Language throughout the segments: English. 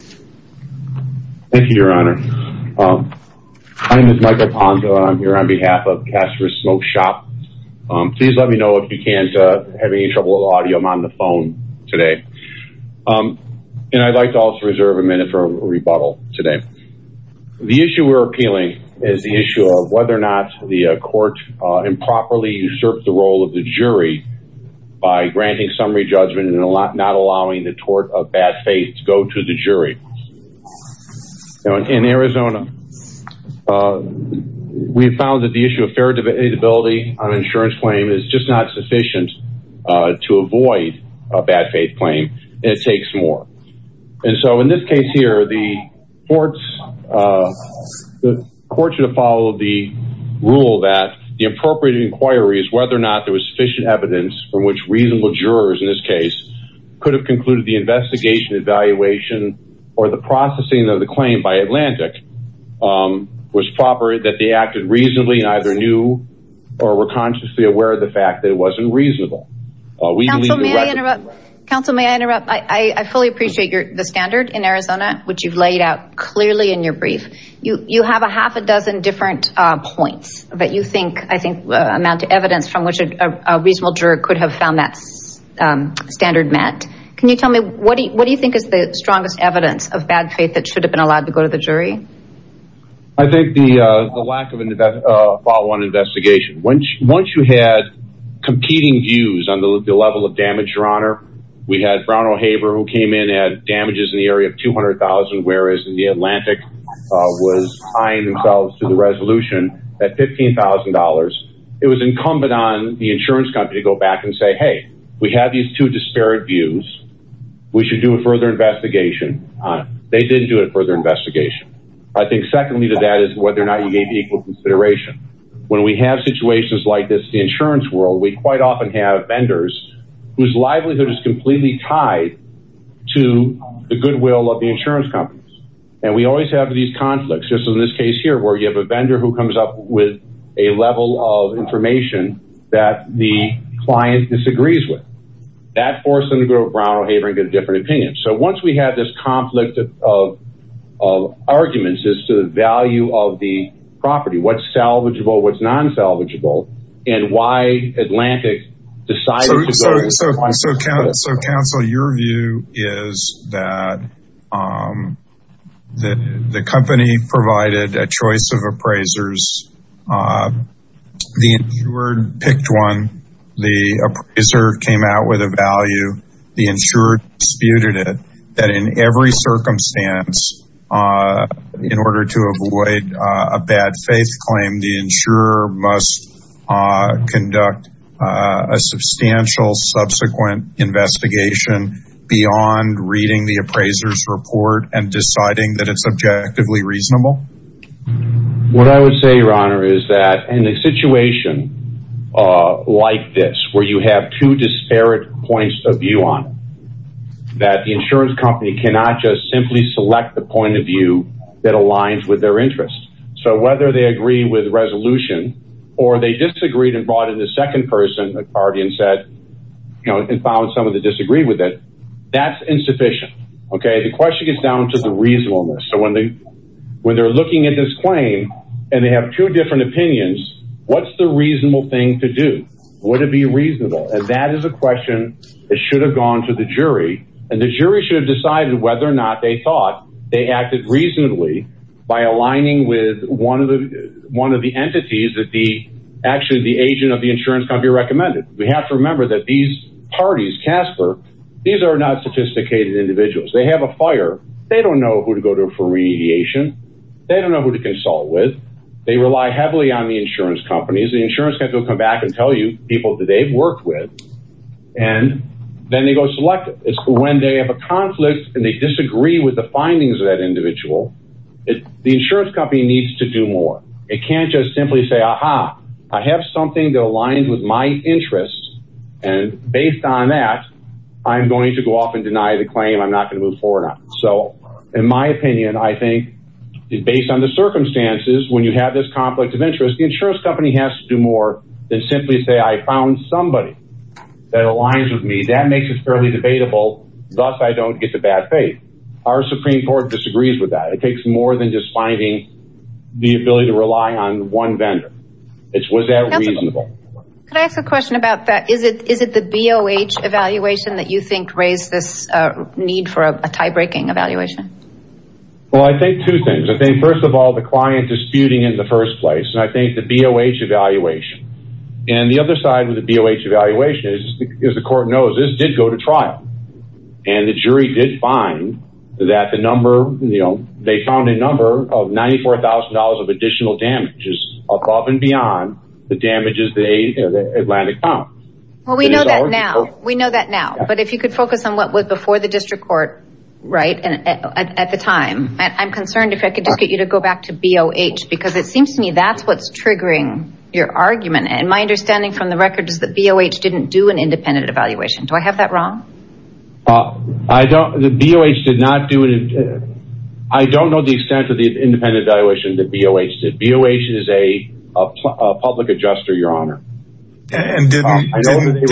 Thank you, Your Honor. My name is Michael Ponto and I'm here on behalf of Kastler Smoke Shop. Please let me know if you can't have any trouble with the audio. I'm on the phone today and I'd like to also reserve a minute for a rebuttal today. The issue we're appealing is the issue of whether or not the court improperly usurped the role of the jury by granting summary judgment and not allowing the tort of bad faith to go to the jury. In Arizona, we found that the issue of fair debility on insurance claim is just not sufficient to avoid a bad faith claim and it takes more. And so in this case here, the court should have followed the rule that the appropriate inquiry is whether or not there was sufficient evidence from which reasonable jurors, in this case, could have concluded the investigation, evaluation, or the processing of the claim by Atlantic was proper that they acted reasonably and either knew or were consciously aware of the fact that it wasn't reasonable. Council, may I interrupt? I fully appreciate the standard in Arizona, which you've laid out clearly in your brief. You have a half a dozen different points, but you think I think amount of evidence from which a reasonable juror could have found that standard met. Can you tell me what do you think is the strongest evidence of bad faith that should have been allowed to go to the jury? I think the lack of a follow-on investigation. Once you had competing views on the level of damage, Your Honor, we had Brown O'Haver who came in and had damages in the area of $200,000, whereas the Atlantic was tying themselves to the resolution at $15,000. It was incumbent on the insurance company to go back and say, hey, we have these two disparate views. We should do a further investigation. They didn't do a further investigation. I think secondly to that is whether or not you gave equal consideration. When we have situations like this, the insurance world, we quite often have vendors whose livelihood is completely tied to the goodwill of the insurance companies. And we always have these conflicts, just in this case here, where you have a vendor who comes up with a level of information that the client disagrees with. That forced them to go to Brown O'Haver and get a different opinion. So once we have this conflict of arguments as to the value of the property, what's salvageable, what's non-salvageable, and why Atlantic decided to go to the client. So counsel, your view is that the company provided a choice of appraisers. The insured picked one. The appraiser came out with a value. The insured disputed it. That in every circumstance, in order to avoid a bad faith claim, the insurer must conduct a substantial subsequent investigation beyond reading the appraiser's report and deciding that it's objectively reasonable? What I would say, your honor, is that in a situation like this, where you have two disparate points of view on it, that the insurance company cannot just simply select the point of view that aligns with their interests. So whether they agree with resolution or they disagreed and brought in the second person, the guardian said, you know, and the question gets down to the reasonableness. So when they're looking at this claim and they have two different opinions, what's the reasonable thing to do? Would it be reasonable? And that is a question that should have gone to the jury. And the jury should have decided whether or not they thought they acted reasonably by aligning with one of the entities that actually the agent of the insurance company recommended. We have to remember that these parties, CASPER, these are not autisticated individuals. They have a fire. They don't know who to go to for radiation. They don't know who to consult with. They rely heavily on the insurance companies. The insurance company will come back and tell you people that they've worked with and then they go select it. It's when they have a conflict and they disagree with the findings of that individual, the insurance company needs to do more. It can't just simply say, aha, I have something that aligns with my interests and based on that, I'm going to go off and deny the claim. I'm not going to move forward on it. So in my opinion, I think based on the circumstances, when you have this conflict of interest, the insurance company has to do more than simply say I found somebody that aligns with me. That makes it fairly debatable. Thus, I don't get the bad faith. Our Supreme Court disagrees with that. It takes more than just finding the ability to rely on one vendor. Was that reasonable? Could I ask a question about that? Is it the BOH evaluation that you think raised this need for a tie-breaking evaluation? Well, I think two things. I think, first of all, the client disputing in the first place and I think the BOH evaluation and the other side of the BOH evaluation is, as the court knows, this did go to trial and the jury did find that the number, you know, they found a number of $94,000 of additional damages above and beyond the damages the Atlantic found. Well, we know that now. We know that now. But if you could focus on what was before the district court, right, at the time. I'm concerned if I could just get you to go back to BOH because it seems to me that's what's triggering your argument. And my understanding from the record is that BOH didn't do an independent evaluation. Do I have that wrong? I don't, the BOH did not do it. I don't know the extent of independent evaluation that BOH did. BOH is a public adjuster, your honor. And didn't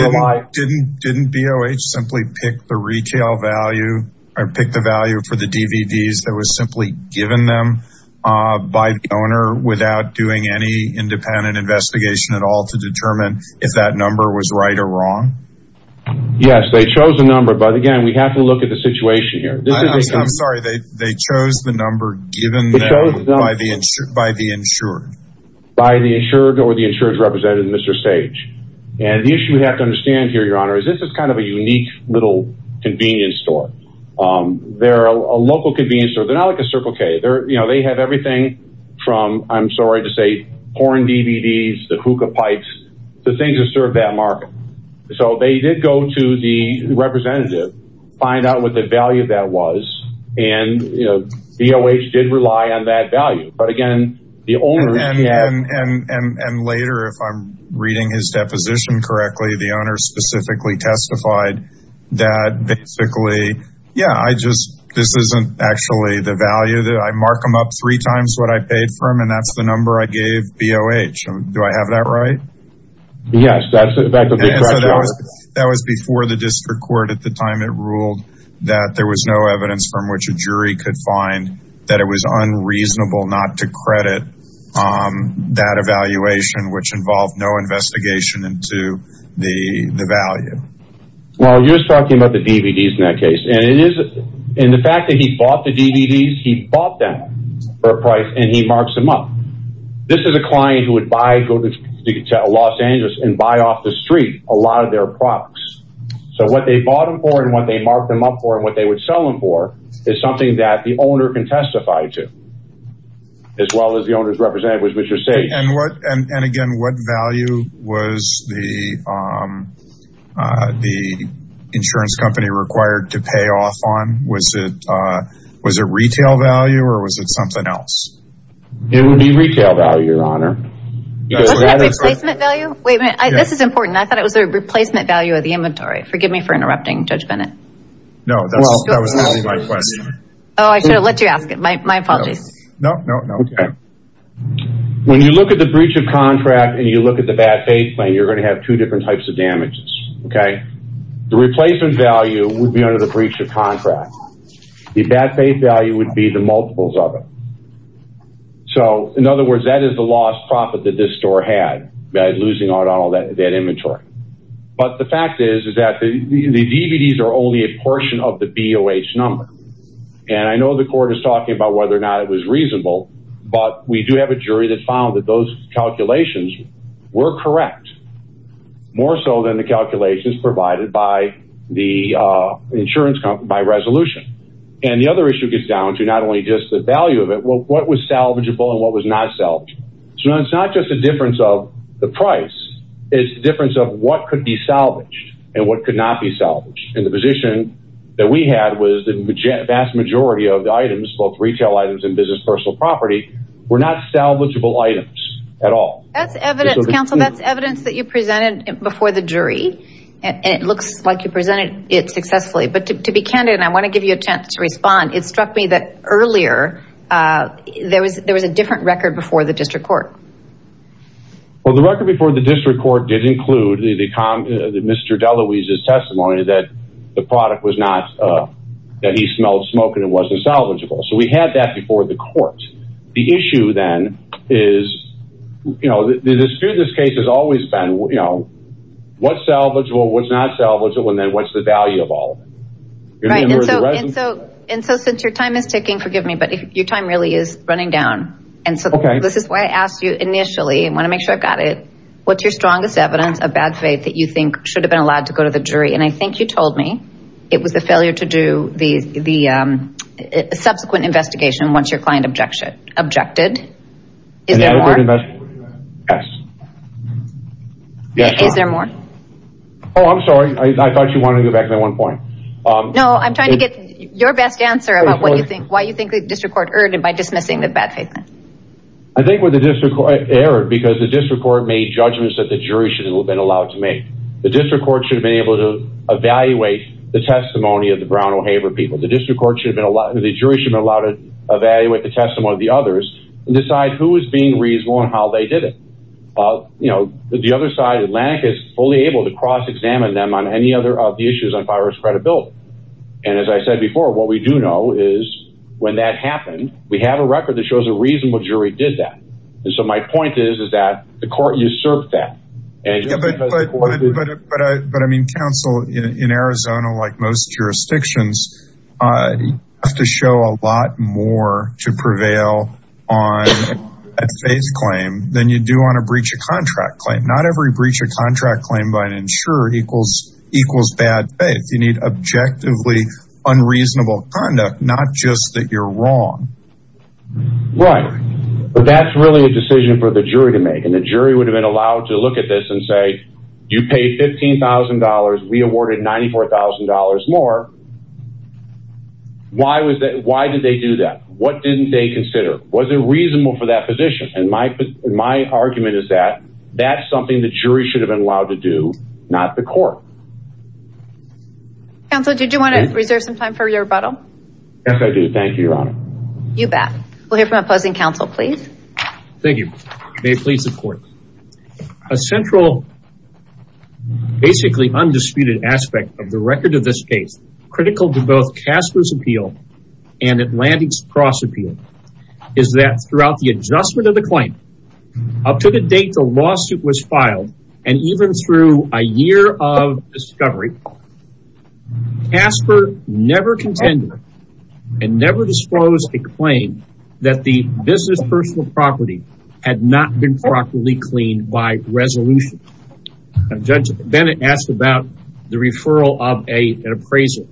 BOH simply pick the retail value or pick the value for the DVDs that was simply given them by the owner without doing any independent investigation at all to determine if that number was right or wrong? Yes, they chose the number. But again, we have to look at the situation here. I'm sorry, they chose the number given by the insured? By the insured or the insured representative, Mr. Stage. And the issue we have to understand here, your honor, is this is kind of a unique little convenience store. They're a local convenience store. They're not like a Circle K. They're, you know, they have everything from, I'm sorry to say, porn DVDs, the hookah pipes, the things that serve that market. So they did go to the insured representative, find out what the value of that was. And, you know, BOH did rely on that value. But again, the owner. And later, if I'm reading his deposition correctly, the owner specifically testified that basically, yeah, I just, this isn't actually the value that I mark them up three times what I paid for them. And that's the number I gave BOH. Do I have that right? Yes. That was before the district court at the time it ruled that there was no evidence from which a jury could find that it was unreasonable not to credit that evaluation, which involved no investigation into the value. Well, you're talking about the DVDs in that case. And it is in the fact that he bought the DVDs, he bought them for a price and he marks them up. This is a client who would buy, go to Los Angeles and buy off the street a lot of their products. So what they bought them for and what they marked them up for and what they would sell them for is something that the owner can testify to, as well as the owner's representative, which is safe. And what, and again, what value was the insurance company required to pay off on? Was it retail value or was it something else? It would be retail value, your honor. This is important. I thought it was a replacement value of the inventory. Forgive me for interrupting Judge Bennett. No, that was my question. Oh, I should have let you ask it. My apologies. No, no, no. When you look at the breach of contract and you look at the bad faith plan, you're going to have two different types of damages. Okay. The replacement value would be under the breach of contract. So in other words, that is the lost profit that this store had by losing all that inventory. But the fact is, is that the DVDs are only a portion of the BOH number. And I know the court is talking about whether or not it was reasonable, but we do have a jury that found that those calculations were correct, more so than the calculations provided by the insurance company by resolution. And the other issue gets down to not only just the value of it, well, what was salvageable and what was not salvageable? So it's not just a difference of the price. It's the difference of what could be salvaged and what could not be salvaged. And the position that we had was the vast majority of the items, both retail items and business personal property, were not salvageable items at all. That's evidence, counsel. That's evidence that you presented before the jury. It looks like you presented it successfully. But to be candid, I want to give you a chance to respond. It struck me that earlier, there was a different record before the district court. Well, the record before the district court did include Mr. Deluise's testimony that the product was not, that he smelled smoke and it wasn't salvageable. So we had that before the court. The issue then is, you know, the dispute in this case has always been, you know, what's salvageable, what's not salvageable, and then what's the value of all of it? Right. And so since your time is ticking, forgive me, but your time really is running down. And so this is why I asked you initially, I want to make sure I've got it. What's your strongest evidence of bad faith that you think should have been allowed to go to the jury? And I think you told me it was the failure to do the subsequent investigation once your client objected. Is there more? Yes. Is there more? Oh, I'm sorry. I thought you wanted to go back to that one point. No, I'm trying to get your best answer about what you think, why you think the district court erred by dismissing the bad faith. I think the district court erred because the district court made judgments that the jury should have been allowed to make. The district court should have been able to evaluate the testimony of the Brown O'Haver people. The district court should have been allowed, the jury should have been allowed to evaluate the testimony of the others and decide who was being reasonable and how they did it. You know, the other side of the Atlantic is fully able to examine them on any other of the issues on virus credibility. And as I said before, what we do know is when that happened, we have a record that shows a reasonable jury did that. So my point is, is that the court usurped that. But I mean, counsel in Arizona, like most jurisdictions, have to show a lot more to prevail on a faith claim than you do on a breach of equals bad faith. You need objectively unreasonable conduct, not just that you're wrong. Right. But that's really a decision for the jury to make. And the jury would have been allowed to look at this and say, you paid $15,000. We awarded $94,000 more. Why did they do that? What didn't they consider? Was it reasonable for that position? And my argument is that that's something the jury should have been allowed to do, not the court. Counsel, did you want to reserve some time for your rebuttal? Yes, I do. Thank you, Your Honor. You bet. We'll hear from opposing counsel, please. Thank you. May it please the court. A central, basically undisputed aspect of the record of this case, critical to both Casper's appeal and Atlantic's cross appeal, is that throughout the adjustment of the claim, up to the date the lawsuit was filed, and even through a year of discovery, Casper never contended and never disclosed a claim that the business personal property had not been properly cleaned by resolution. Judge Bennett asked about the referral of an appraiser by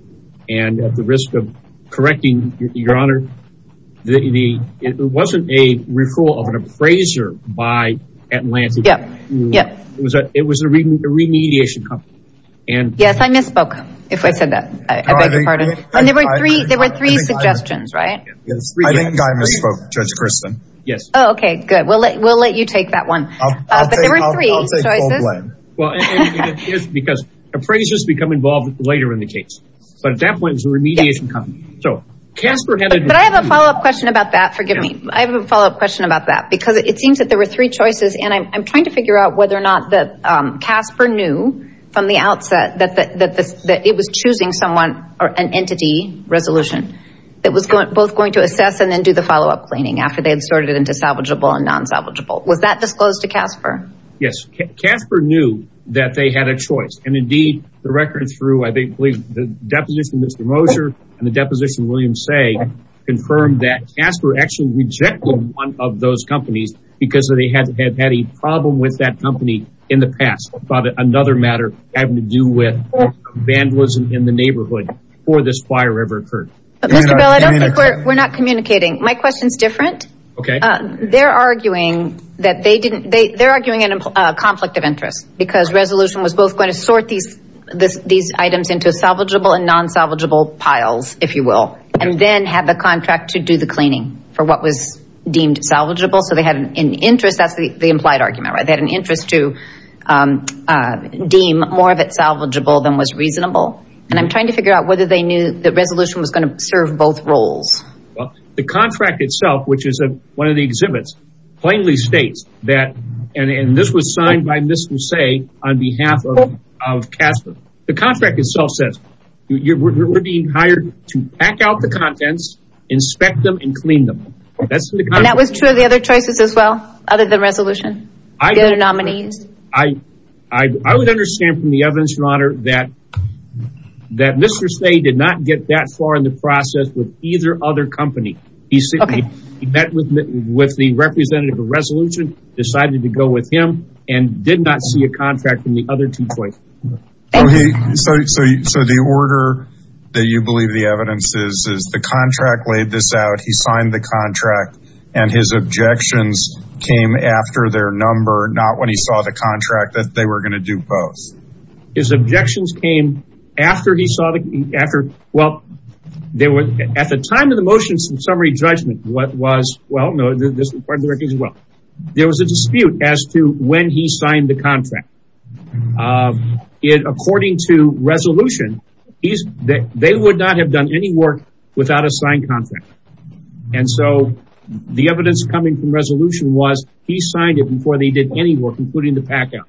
Atlantic. It was a remediation company. Yes, I misspoke. If I said that, I beg your pardon. There were three suggestions, right? I think I misspoke, Judge Kristen. Yes. Oh, okay, good. We'll let you take that one. But there were three choices. Well, it's because appraisers become involved later in the case. But at that point, it was a remediation company. So Casper had a... I have a follow-up question about that. Forgive me. I have a follow-up question about that, because it seems that there were three choices. And I'm trying to figure out whether or not Casper knew from the outset that it was choosing someone or an entity resolution that was both going to assess and then do the follow-up planning after they had sorted it into salvageable and non-salvageable. Was that disclosed to Casper? Yes. Casper knew that they had a choice. And indeed, the record through, I believe, the deposition of Mr. Moser and the deposition say confirmed that Casper actually rejected one of those companies because they had had a problem with that company in the past about another matter having to do with vandalism in the neighborhood before this fire ever occurred. Mr. Bell, I don't think we're not communicating. My question's different. Okay. They're arguing that they didn't... They're arguing a conflict of interest because resolution was both going to sort these items into salvageable and non-salvageable piles, if you will, and then have the contract to do the cleaning for what was deemed salvageable. So they had an interest. That's the implied argument, right? They had an interest to deem more of it salvageable than was reasonable. And I'm trying to figure out whether they knew the resolution was going to serve both roles. Well, the contract itself, which is one of the exhibits, plainly states that, and this was signed by Ms. Musse on behalf of Casper. The contract itself says, we're being hired to pack out the contents, inspect them, and clean them. And that was true of the other choices as well, other than resolution? The other nominees? I would understand from the evidence, your honor, that Mr. Stey did not get that far in the process with either other company. He met with the representative of resolution, decided to go with him, and did not see a contract from the other two choices. So the order that you believe the evidence is, is the contract laid this out, he signed the contract, and his objections came after their number, not when he saw the contract that they were going to do both. His objections came after he saw the, after, well, there were, at the time of the motions and summary judgment, what was, well, no, there was a dispute as to when he signed the contract. According to resolution, he's, they would not have done any work without a signed contract. And so the evidence coming from resolution was, he signed it before they did any work, including the packout.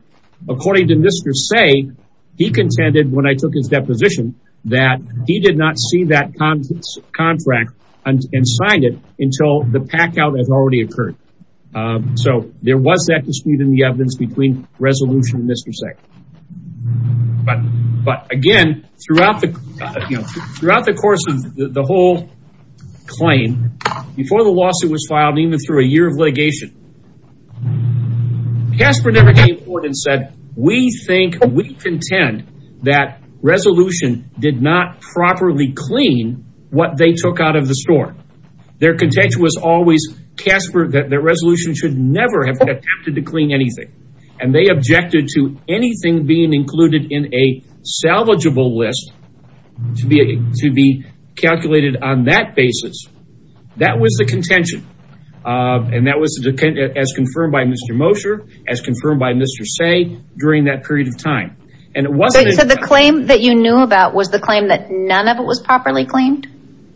According to Mr. Stey, he contended, when I took his deposition, that he did not see that contract and signed it until the packout had already occurred. So there was that dispute in the evidence between resolution and Mr. Stey. But again, throughout the, you know, throughout the course of the whole claim, before the lawsuit was filed, even through a year of litigation, Casper never came forward and said, we think, we contend that resolution did not properly clean what they took out of the store. Their contention was always, Casper, that their resolution should never have attempted to clean anything. And they objected to anything being included in a salvageable list to be, to be calculated on that basis. That was the contention. And that was as confirmed by Mr. Mosher, as confirmed by Mr. Stey during that period of time. And it wasn't. So the claim that you knew about was the claim that none of it was properly cleaned?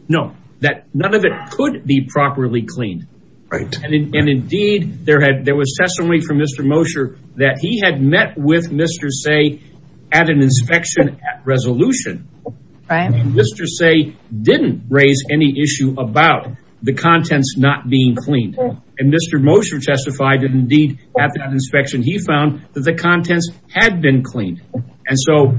No, that none of it could be properly cleaned. Right. And indeed there had, there was testimony from Mr. Mosher that he had met with Mr. Stey at an inspection at resolution. Right. And Mr. Stey didn't raise any issue about the contents not being cleaned. And Mr. Mosher testified that indeed at that inspection, he found that the contents had been cleaned. And so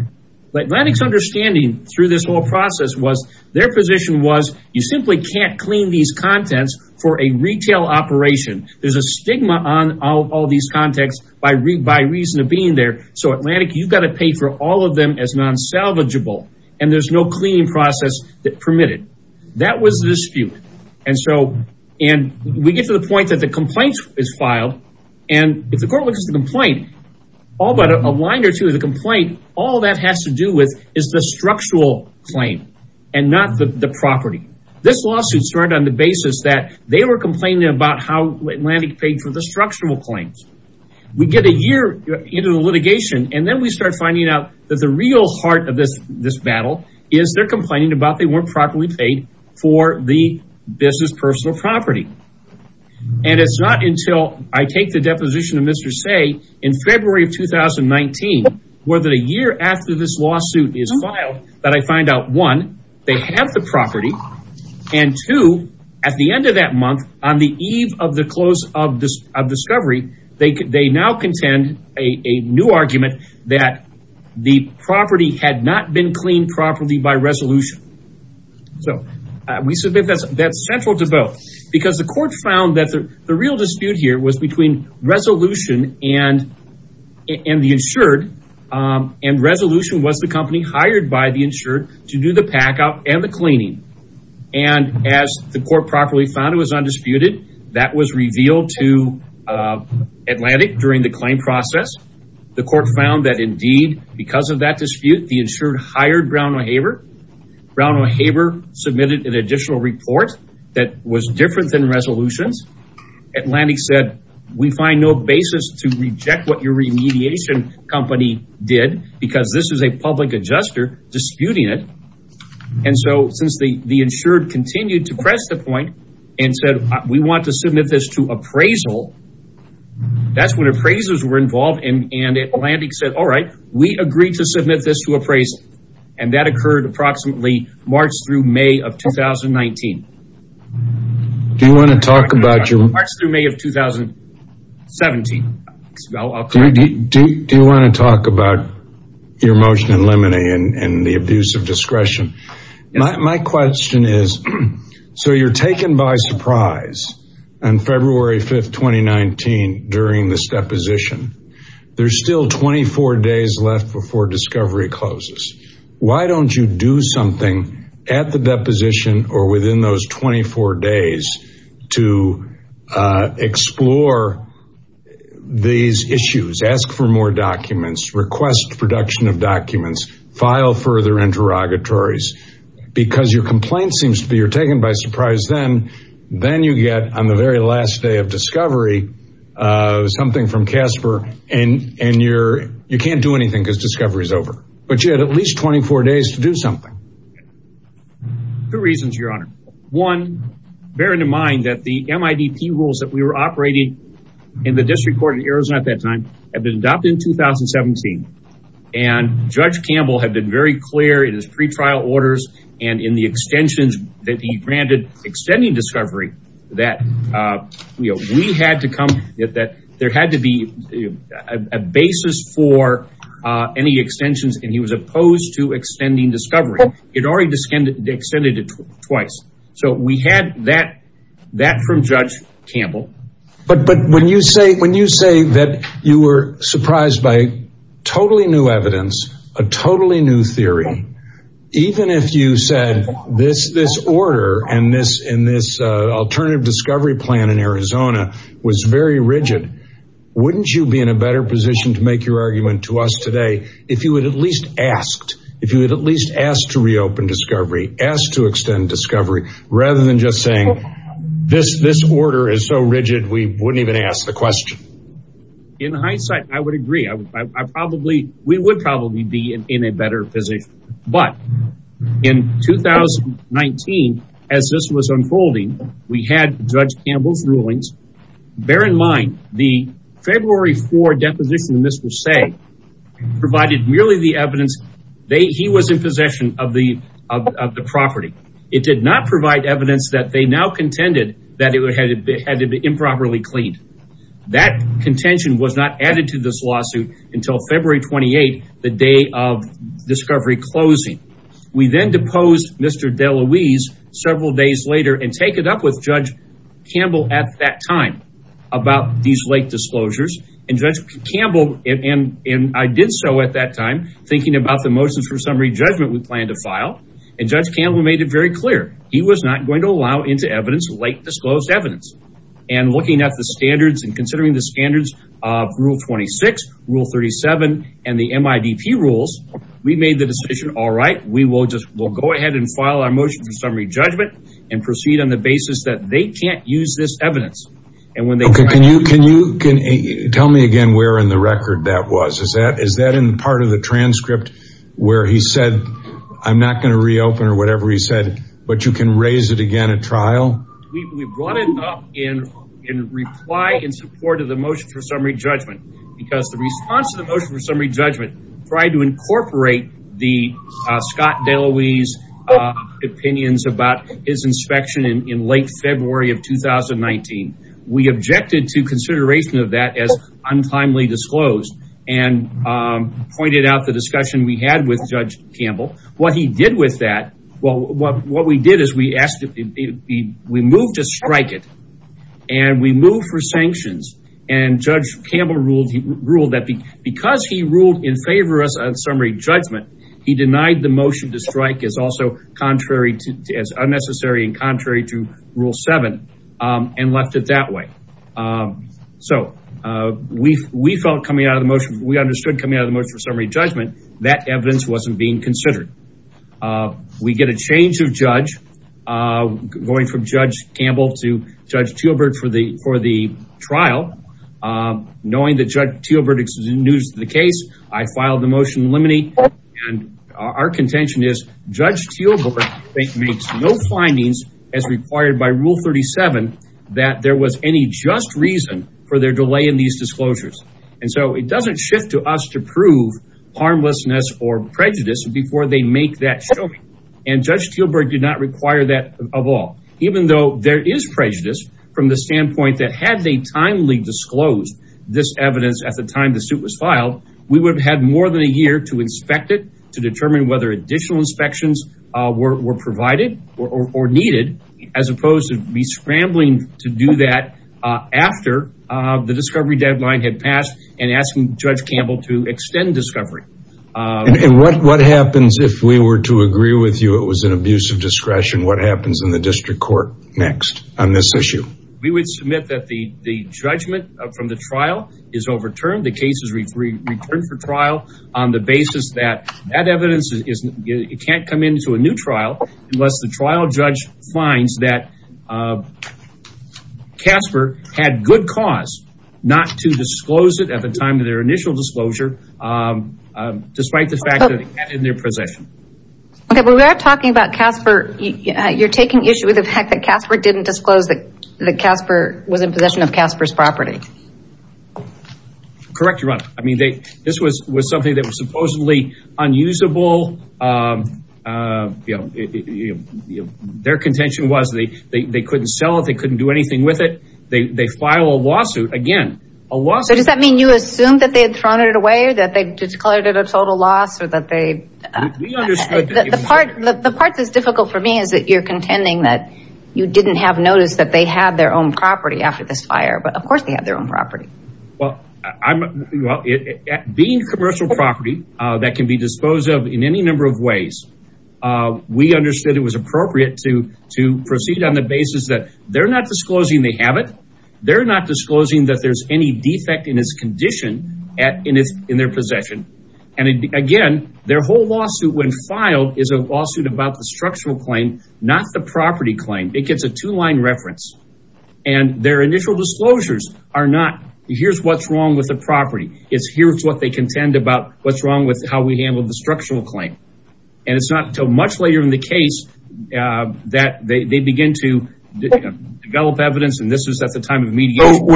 Atlantic's understanding through this whole process was their position was you simply can't clean these contents for a retail operation. There's a stigma on all these contexts by reason of being there. So Atlantic, you've got to pay for all of them as non salvageable. And there's no cleaning process permitted. That was the dispute. And so, and we get to the point that the complaint is filed. And if the court looks at the complaint, all but a line or two of the complaint, all that has to do with is the structural claim and not the property. This lawsuit started on the basis that they were complaining about how Atlantic paid for the structural claims. We get a year into the litigation, and then we start finding out that the real heart of this battle is they're complaining about they weren't properly paid for the business personal property. And it's not until I take the deposition of Mr. Stey in February of 2019, where the year after this lawsuit is filed, that I find out one, they have the property. And two, at the end of that month, on the eve of the close of discovery, they now contend a new that the property had not been cleaned properly by resolution. So we submit that's central to both. Because the court found that the real dispute here was between resolution and the insured. And resolution was the company hired by the insured to do the packout and the cleaning. And as the court properly found it was undisputed, that was revealed to Atlantic during the claim process. The court found that indeed, because of that dispute, the insured hired Brown & Haber. Brown & Haber submitted an additional report that was different than resolutions. Atlantic said, we find no basis to reject what your remediation company did, because this is a public adjuster disputing it. And so since the insured continued to press the point and said, we want to submit this to appraisal, that's when appraisers were involved. And Atlantic said, all right, we agree to submit this to appraisal. And that occurred approximately March through May of 2019. Do you want to talk about your... March through May of 2017. Do you want to talk about your motion in limine and the abuse of discretion? My question is, so you're taken by surprise on February 5th, 2019 during this deposition, there's still 24 days left before discovery closes. Why don't you do something at the deposition or within those 24 days to explore these issues, ask for more documents, request production of documents, file further interrogatories, because your complaint seems to be you're taken by surprise then. Then you get on the very last day of discovery, something from Casper and you can't do anything because discovery is over, but you had at least 24 days to do something. Two reasons, your honor. One, bear in mind that the MIDP rules that we were operating in the district court in Arizona at that time had been adopted in 2017. And Judge Campbell had been very clear in his pre-trial orders and in the extensions that he granted extending discovery that we had to come, that there had to be a basis for any extensions and he was opposed to extending discovery. He had already extended it twice. So we had that from Judge Campbell. But when you say that you were surprised by totally new evidence, a totally new theory, even if you said this order and this alternative discovery plan in Arizona was very rigid, wouldn't you be in a better position to make your argument to us today if you had at least asked, if you had at least asked to reopen discovery, asked to extend discovery, rather than just saying this, this order is so rigid, we wouldn't even ask the question. In hindsight, I would agree. I probably, we would probably be in a better position. But in 2019, as this was unfolding, we had Judge Campbell's rulings. Bear in mind, the February 4 deposition in this will say, provided merely the evidence. He was in possession of the property. It did not provide evidence that they now contended that it had to be improperly cleaned. That contention was not added to this lawsuit until February 28, the day of discovery closing. We then deposed Mr. DeLuise several days later and take it up with Judge Campbell at that time about these late disclosures and Judge I did so at that time, thinking about the motions for summary judgment we plan to file. And Judge Campbell made it very clear, he was not going to allow into evidence, late disclosed evidence. And looking at the standards and considering the standards of rule 26, rule 37, and the MIDP rules, we made the decision, all right, we will just, we'll go ahead and file our motion for summary judgment and proceed on the basis that they can't use this Is that in part of the transcript where he said, I'm not going to reopen or whatever he said, but you can raise it again at trial? We brought it up in reply in support of the motion for summary judgment because the response to the motion for summary judgment tried to incorporate the Scott DeLuise opinions about his inspection in late February of 2019. We objected to and pointed out the discussion we had with Judge Campbell. What he did with that, well, what we did is we asked, we moved to strike it and we moved for sanctions. And Judge Campbell ruled that because he ruled in favor of summary judgment, he denied the motion to strike as also contrary to, as unnecessary and contrary to rule seven and left it that way. Um, so, uh, we, we felt coming out of the motion, we understood coming out of the motion for summary judgment, that evidence wasn't being considered. Uh, we get a change of judge, uh, going from Judge Campbell to Judge Teelbert for the, for the trial, um, knowing that Judge Teelbert is in news of the case, I filed the motion limiting and our contention is Judge Teelbert makes no findings as required by rule 37, that there was any just reason for their delay in these disclosures. And so it doesn't shift to us to prove harmlessness or prejudice before they make that show. And Judge Teelbert did not require that of all, even though there is prejudice from the standpoint that had they timely disclosed this evidence at the time the suit was filed, we would have had more than a year to inspect it, to determine whether additional inspections, uh, were provided or needed as opposed to me scrambling to do that. Uh, after, uh, the discovery deadline had passed and asking Judge Campbell to extend discovery. Uh, and what, what happens if we were to agree with you, it was an abuse of discretion. What happens in the district court next on this issue? We would submit that the, the judgment from the trial is overturned. The case is returned for trial on the basis that that evidence is, it can't come into a new trial unless the trial judge finds that, uh, Casper had good cause not to disclose it at the time of their initial disclosure. Um, um, despite the fact that they had it in their possession. Okay. Well, we are talking about Casper. You're taking issue with the fact that Casper didn't disclose that Casper was in possession of Casper's property. Correct. You're right. I mean, they, this was, was something that was supposedly unusable. Um, uh, you know, their contention was they, they, they couldn't sell it. They couldn't do anything with it. They, they file a lawsuit again, a lawsuit. Does that mean you assume that they had thrown it away or that they declared it a total loss or that they, uh, the part, the part that's difficult for me is that you're contending that you didn't have noticed that they had their own property after this fire, but of course they have their own property. Well, I'm well, it being commercial property, uh, that can be disposed of in any number of ways. Uh, we understood it was appropriate to, to proceed on the basis that they're not disclosing. They have it. They're not disclosing that there's any defect in his condition at, in his, in their possession. And again, their whole lawsuit when filed is a lawsuit about the structural claim, not the property claim. It gets a two line reference and their initial disclosures are not here's what's wrong with the property. It's here's what they contend about what's wrong with how we handled the structural claim. And it's not until much later in the case, uh, that they, they begin to develop evidence. And this is at the time of mediation.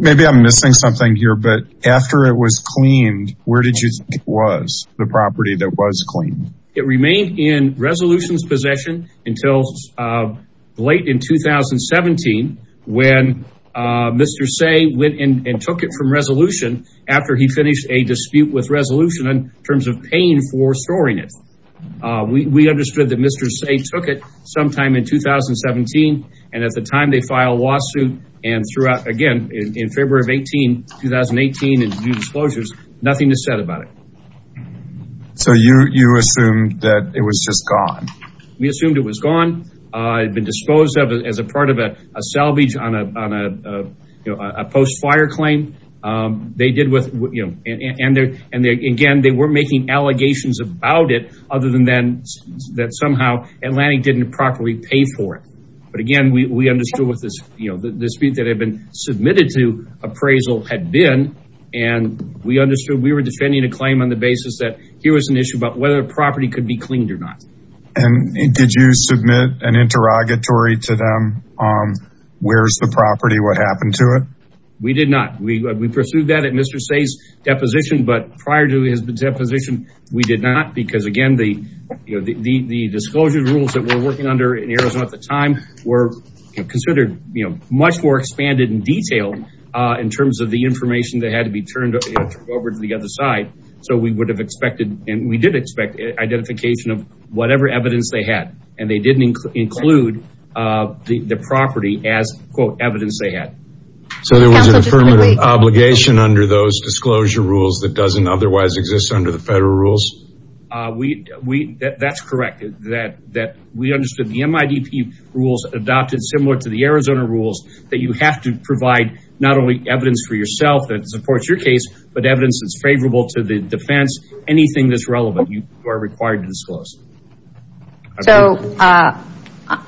Maybe I'm missing something here, but after it was cleaned, where did you think it was? The property that was cleaned. It remained in resolution's possession until, uh, late in 2017 when, uh, Mr. Say went in and took it from resolution after he finished a dispute with resolution in terms of paying for storing it. Uh, we, we understood that Mr. Say took it sometime in 2017. And at the time they filed a lawsuit and throughout, again, in February of 18, 2018 and new disclosures, nothing is said about it. So you, you assumed that it was just gone. We assumed it was gone. Uh, it had been disposed of as a part of a salvage on a, on a, uh, you know, a post fire claim. Um, they did with, you know, and, and, and again, they were making allegations about it other than then that somehow Atlantic didn't properly pay for it. But again, we understood what this, you know, the dispute that had been submitted to appraisal had been, and we understood we were defending a claim on the basis that here was an issue about whether a property could be cleaned or not. And did you submit an interrogatory to them? Um, where's the property? What happened to it? We did not. We, we pursued that at Mr. Say's deposition, but prior to his deposition, we did not because again, the, you know, the, the, the disclosure rules that we're working under in Arizona at the time were considered, you know, much more expanded and detailed, uh, in terms of the information that had to be turned over to the other side. So we would have expected, and we did expect identification of whatever evidence they had, and they didn't include, uh, the, the property as quote evidence they had. So there was an affirmative obligation under those disclosure rules that doesn't otherwise exist under the federal rules. Uh, we, we, that's correct. That, that we understood the MIDP rules adopted similar to the Arizona rules that you have to provide not only evidence for yourself that supports your case, but evidence that's favorable to the defense, anything that's relevant you are required to disclose. So, uh,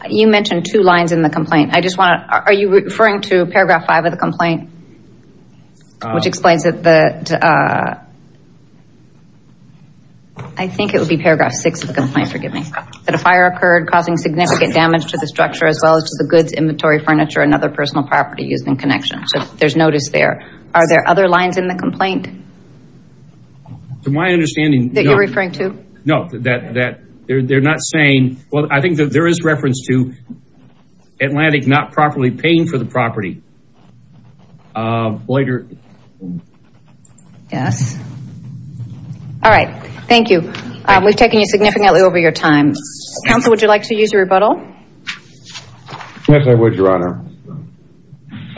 you mentioned two lines in the complaint. I just want to, are you referring to paragraph five of the complaint? Which explains that the, uh, I think it would be paragraph six of the complaint, forgive me. That a fire occurred causing significant damage to the structure as well as to the goods, inventory, furniture, and other personal property used in connection. So there's notice there. Are there other lines in the complaint? To my understanding. That you're referring to? No, that, that they're, they're not saying, well, I think that there is reference to the, uh, later. Yes. All right. Thank you. Um, we've taken you significantly over your time. Counsel, would you like to use a rebuttal? Yes, I would, Your Honor.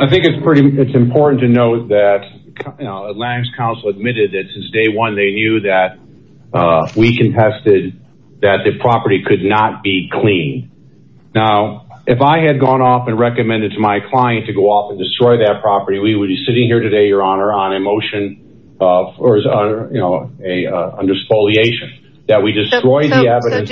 I think it's pretty, it's important to note that, you know, at last counsel admitted that since day one, they knew that, uh, we contested that the property could not be cleaned. Now, if I had gone off and recommended to my client to go off and destroy that property, we would be sitting here today, Your Honor, on a motion of, or as a, you know, a, uh, under spoliation that we destroy the evidence.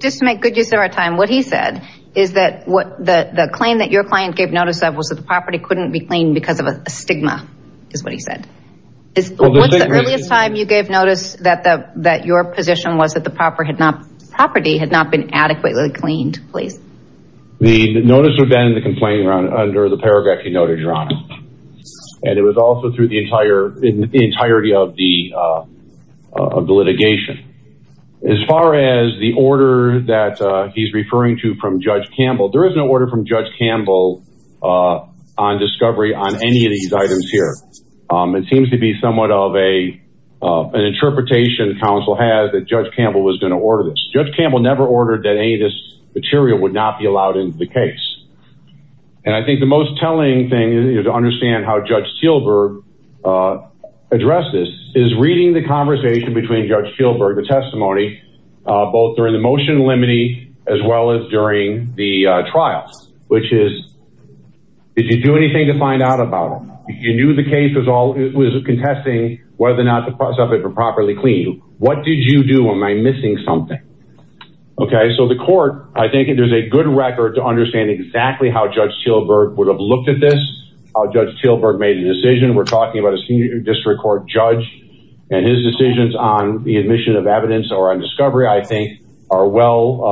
Just to make good use of our time. What he said is that what the claim that your client gave notice of was that the property couldn't be cleaned because of a stigma is what he said. Is what's the earliest time you gave notice that the, that your position was that the proper had not been adequately cleaned, please. The notice of that in the complaint run under the paragraph he noted, Your Honor. And it was also through the entire entirety of the, uh, of the litigation. As far as the order that, uh, he's referring to from judge Campbell, there is no order from judge Campbell, uh, on discovery on any of these items here. Um, it seems to be somewhat of a, uh, an interpretation council has that judge Campbell was going to order this. Judge Campbell never ordered that any of this material would not be allowed into the case. And I think the most telling thing is to understand how judge Spielberg, uh, addressed this is reading the conversation between judge Spielberg, the testimony, uh, both during the motion limiting as well as during the trials, which is, did you do anything to find out about it? You knew the case was all, it was contesting whether or not the stuff had been properly cleaned. What did you do? Am I missing something? Okay. So the court, I think there's a good record to understand exactly how judge Spielberg would have looked at this. Judge Spielberg made a decision. We're talking about a senior district court judge and his decisions on the admission of evidence or on discovery, I think are well,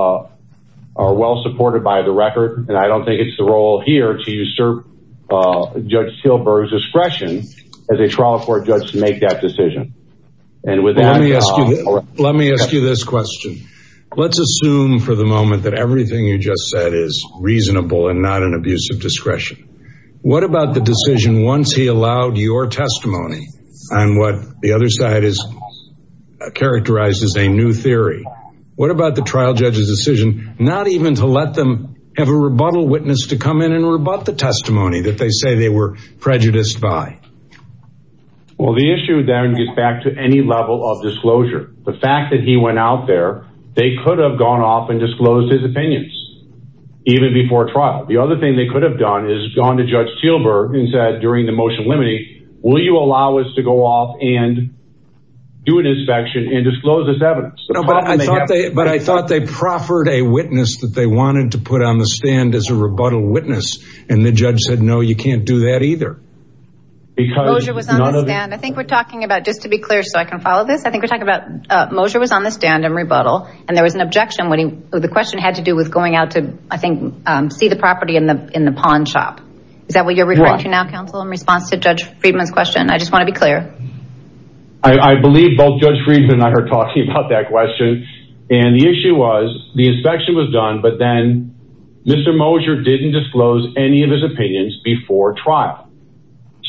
uh, are well supported by the record. And I don't think it's the role here to usurp, uh, judge Spielberg's discretion as a trial court judge to make that decision. And with that, let me ask you this question. Let's assume for the moment that everything you just said is reasonable and not an abuse of discretion. What about the decision? Once he allowed your testimony on what the other side is characterized as a new theory. What about the trial judge's decision? Not even to let them have a rebuttal witness to come in and rebut the testimony that they say they were prejudiced by. Well, the issue then gets back to any level of disclosure. The fact that he went out there, they could have gone off and disclosed his opinions even before trial. The other thing they could have done is gone to judge Spielberg and said, during the motion will you allow us to go off and do an inspection and disclose this evidence? But I thought they proffered a witness that they wanted to put on the stand as a rebuttal witness. And the judge said, no, you can't do that either. I think we're talking about just to be clear, so I can follow this. I think we're talking about Mosher was on the stand and rebuttal, and there was an objection when he, or the question had to do with going out to, I think, um, see the property in the, in the pawn shop. Is that what you're referring to now, counsel, in response to judge Friedman's question? I just want to be clear. I believe both judge Friedman and I are talking about that question. And the issue was the inspection was done, but then Mr. Mosher didn't disclose any of his opinions before trial.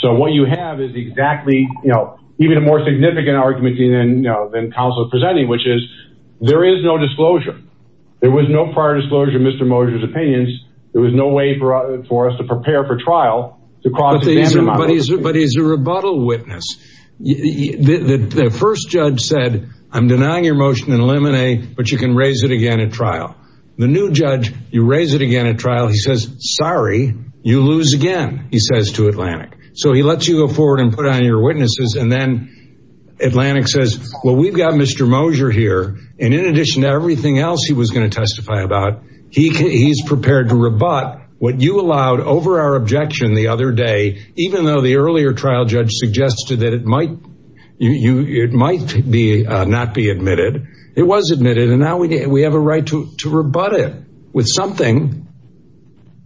So what you have is exactly, you know, even a more significant argument than, you know, than counsel presenting, which is there is no disclosure. There was no prior disclosure, Mr. Mosher's opinions. There was no way for us to prepare for trial. But he's a rebuttal witness. The first judge said, I'm denying your motion and eliminate, but you can raise it again at trial. The new judge, you raise it again at trial. He says, sorry, you lose again, he says to Atlantic. So he lets you go forward and put on your witnesses. And then Atlantic says, well, we've got Mr. Mosher here. And in addition to everything else he was going to testify about, he can, he's prepared to rebut what you allowed over our objection the other day, even though the earlier trial judge suggested that it might, you, you, it might be, uh, not be admitted. It was admitted. And now we, we have a right to, to rebut it with something.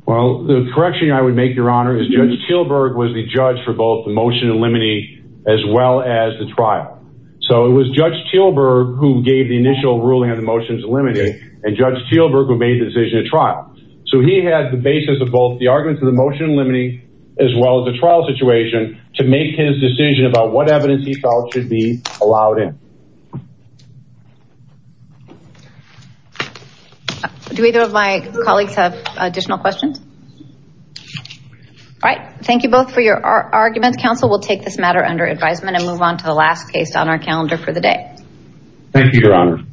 Well, the correction I would make your honor is judge Kielberg was the judge for the motion and limiting as well as the trial. So it was judge Kielberg who gave the initial ruling on the motions limiting and judge Kielberg who made the decision to trial. So he has the basis of both the arguments of the motion limiting as well as the trial situation to make his decision about what evidence he felt should be allowed in. Do either of my colleagues have additional questions? All right. Thank you both for your arguments. Counsel will take this matter under advisement and move on to the last case on our calendar for the day. Thank you, your honor.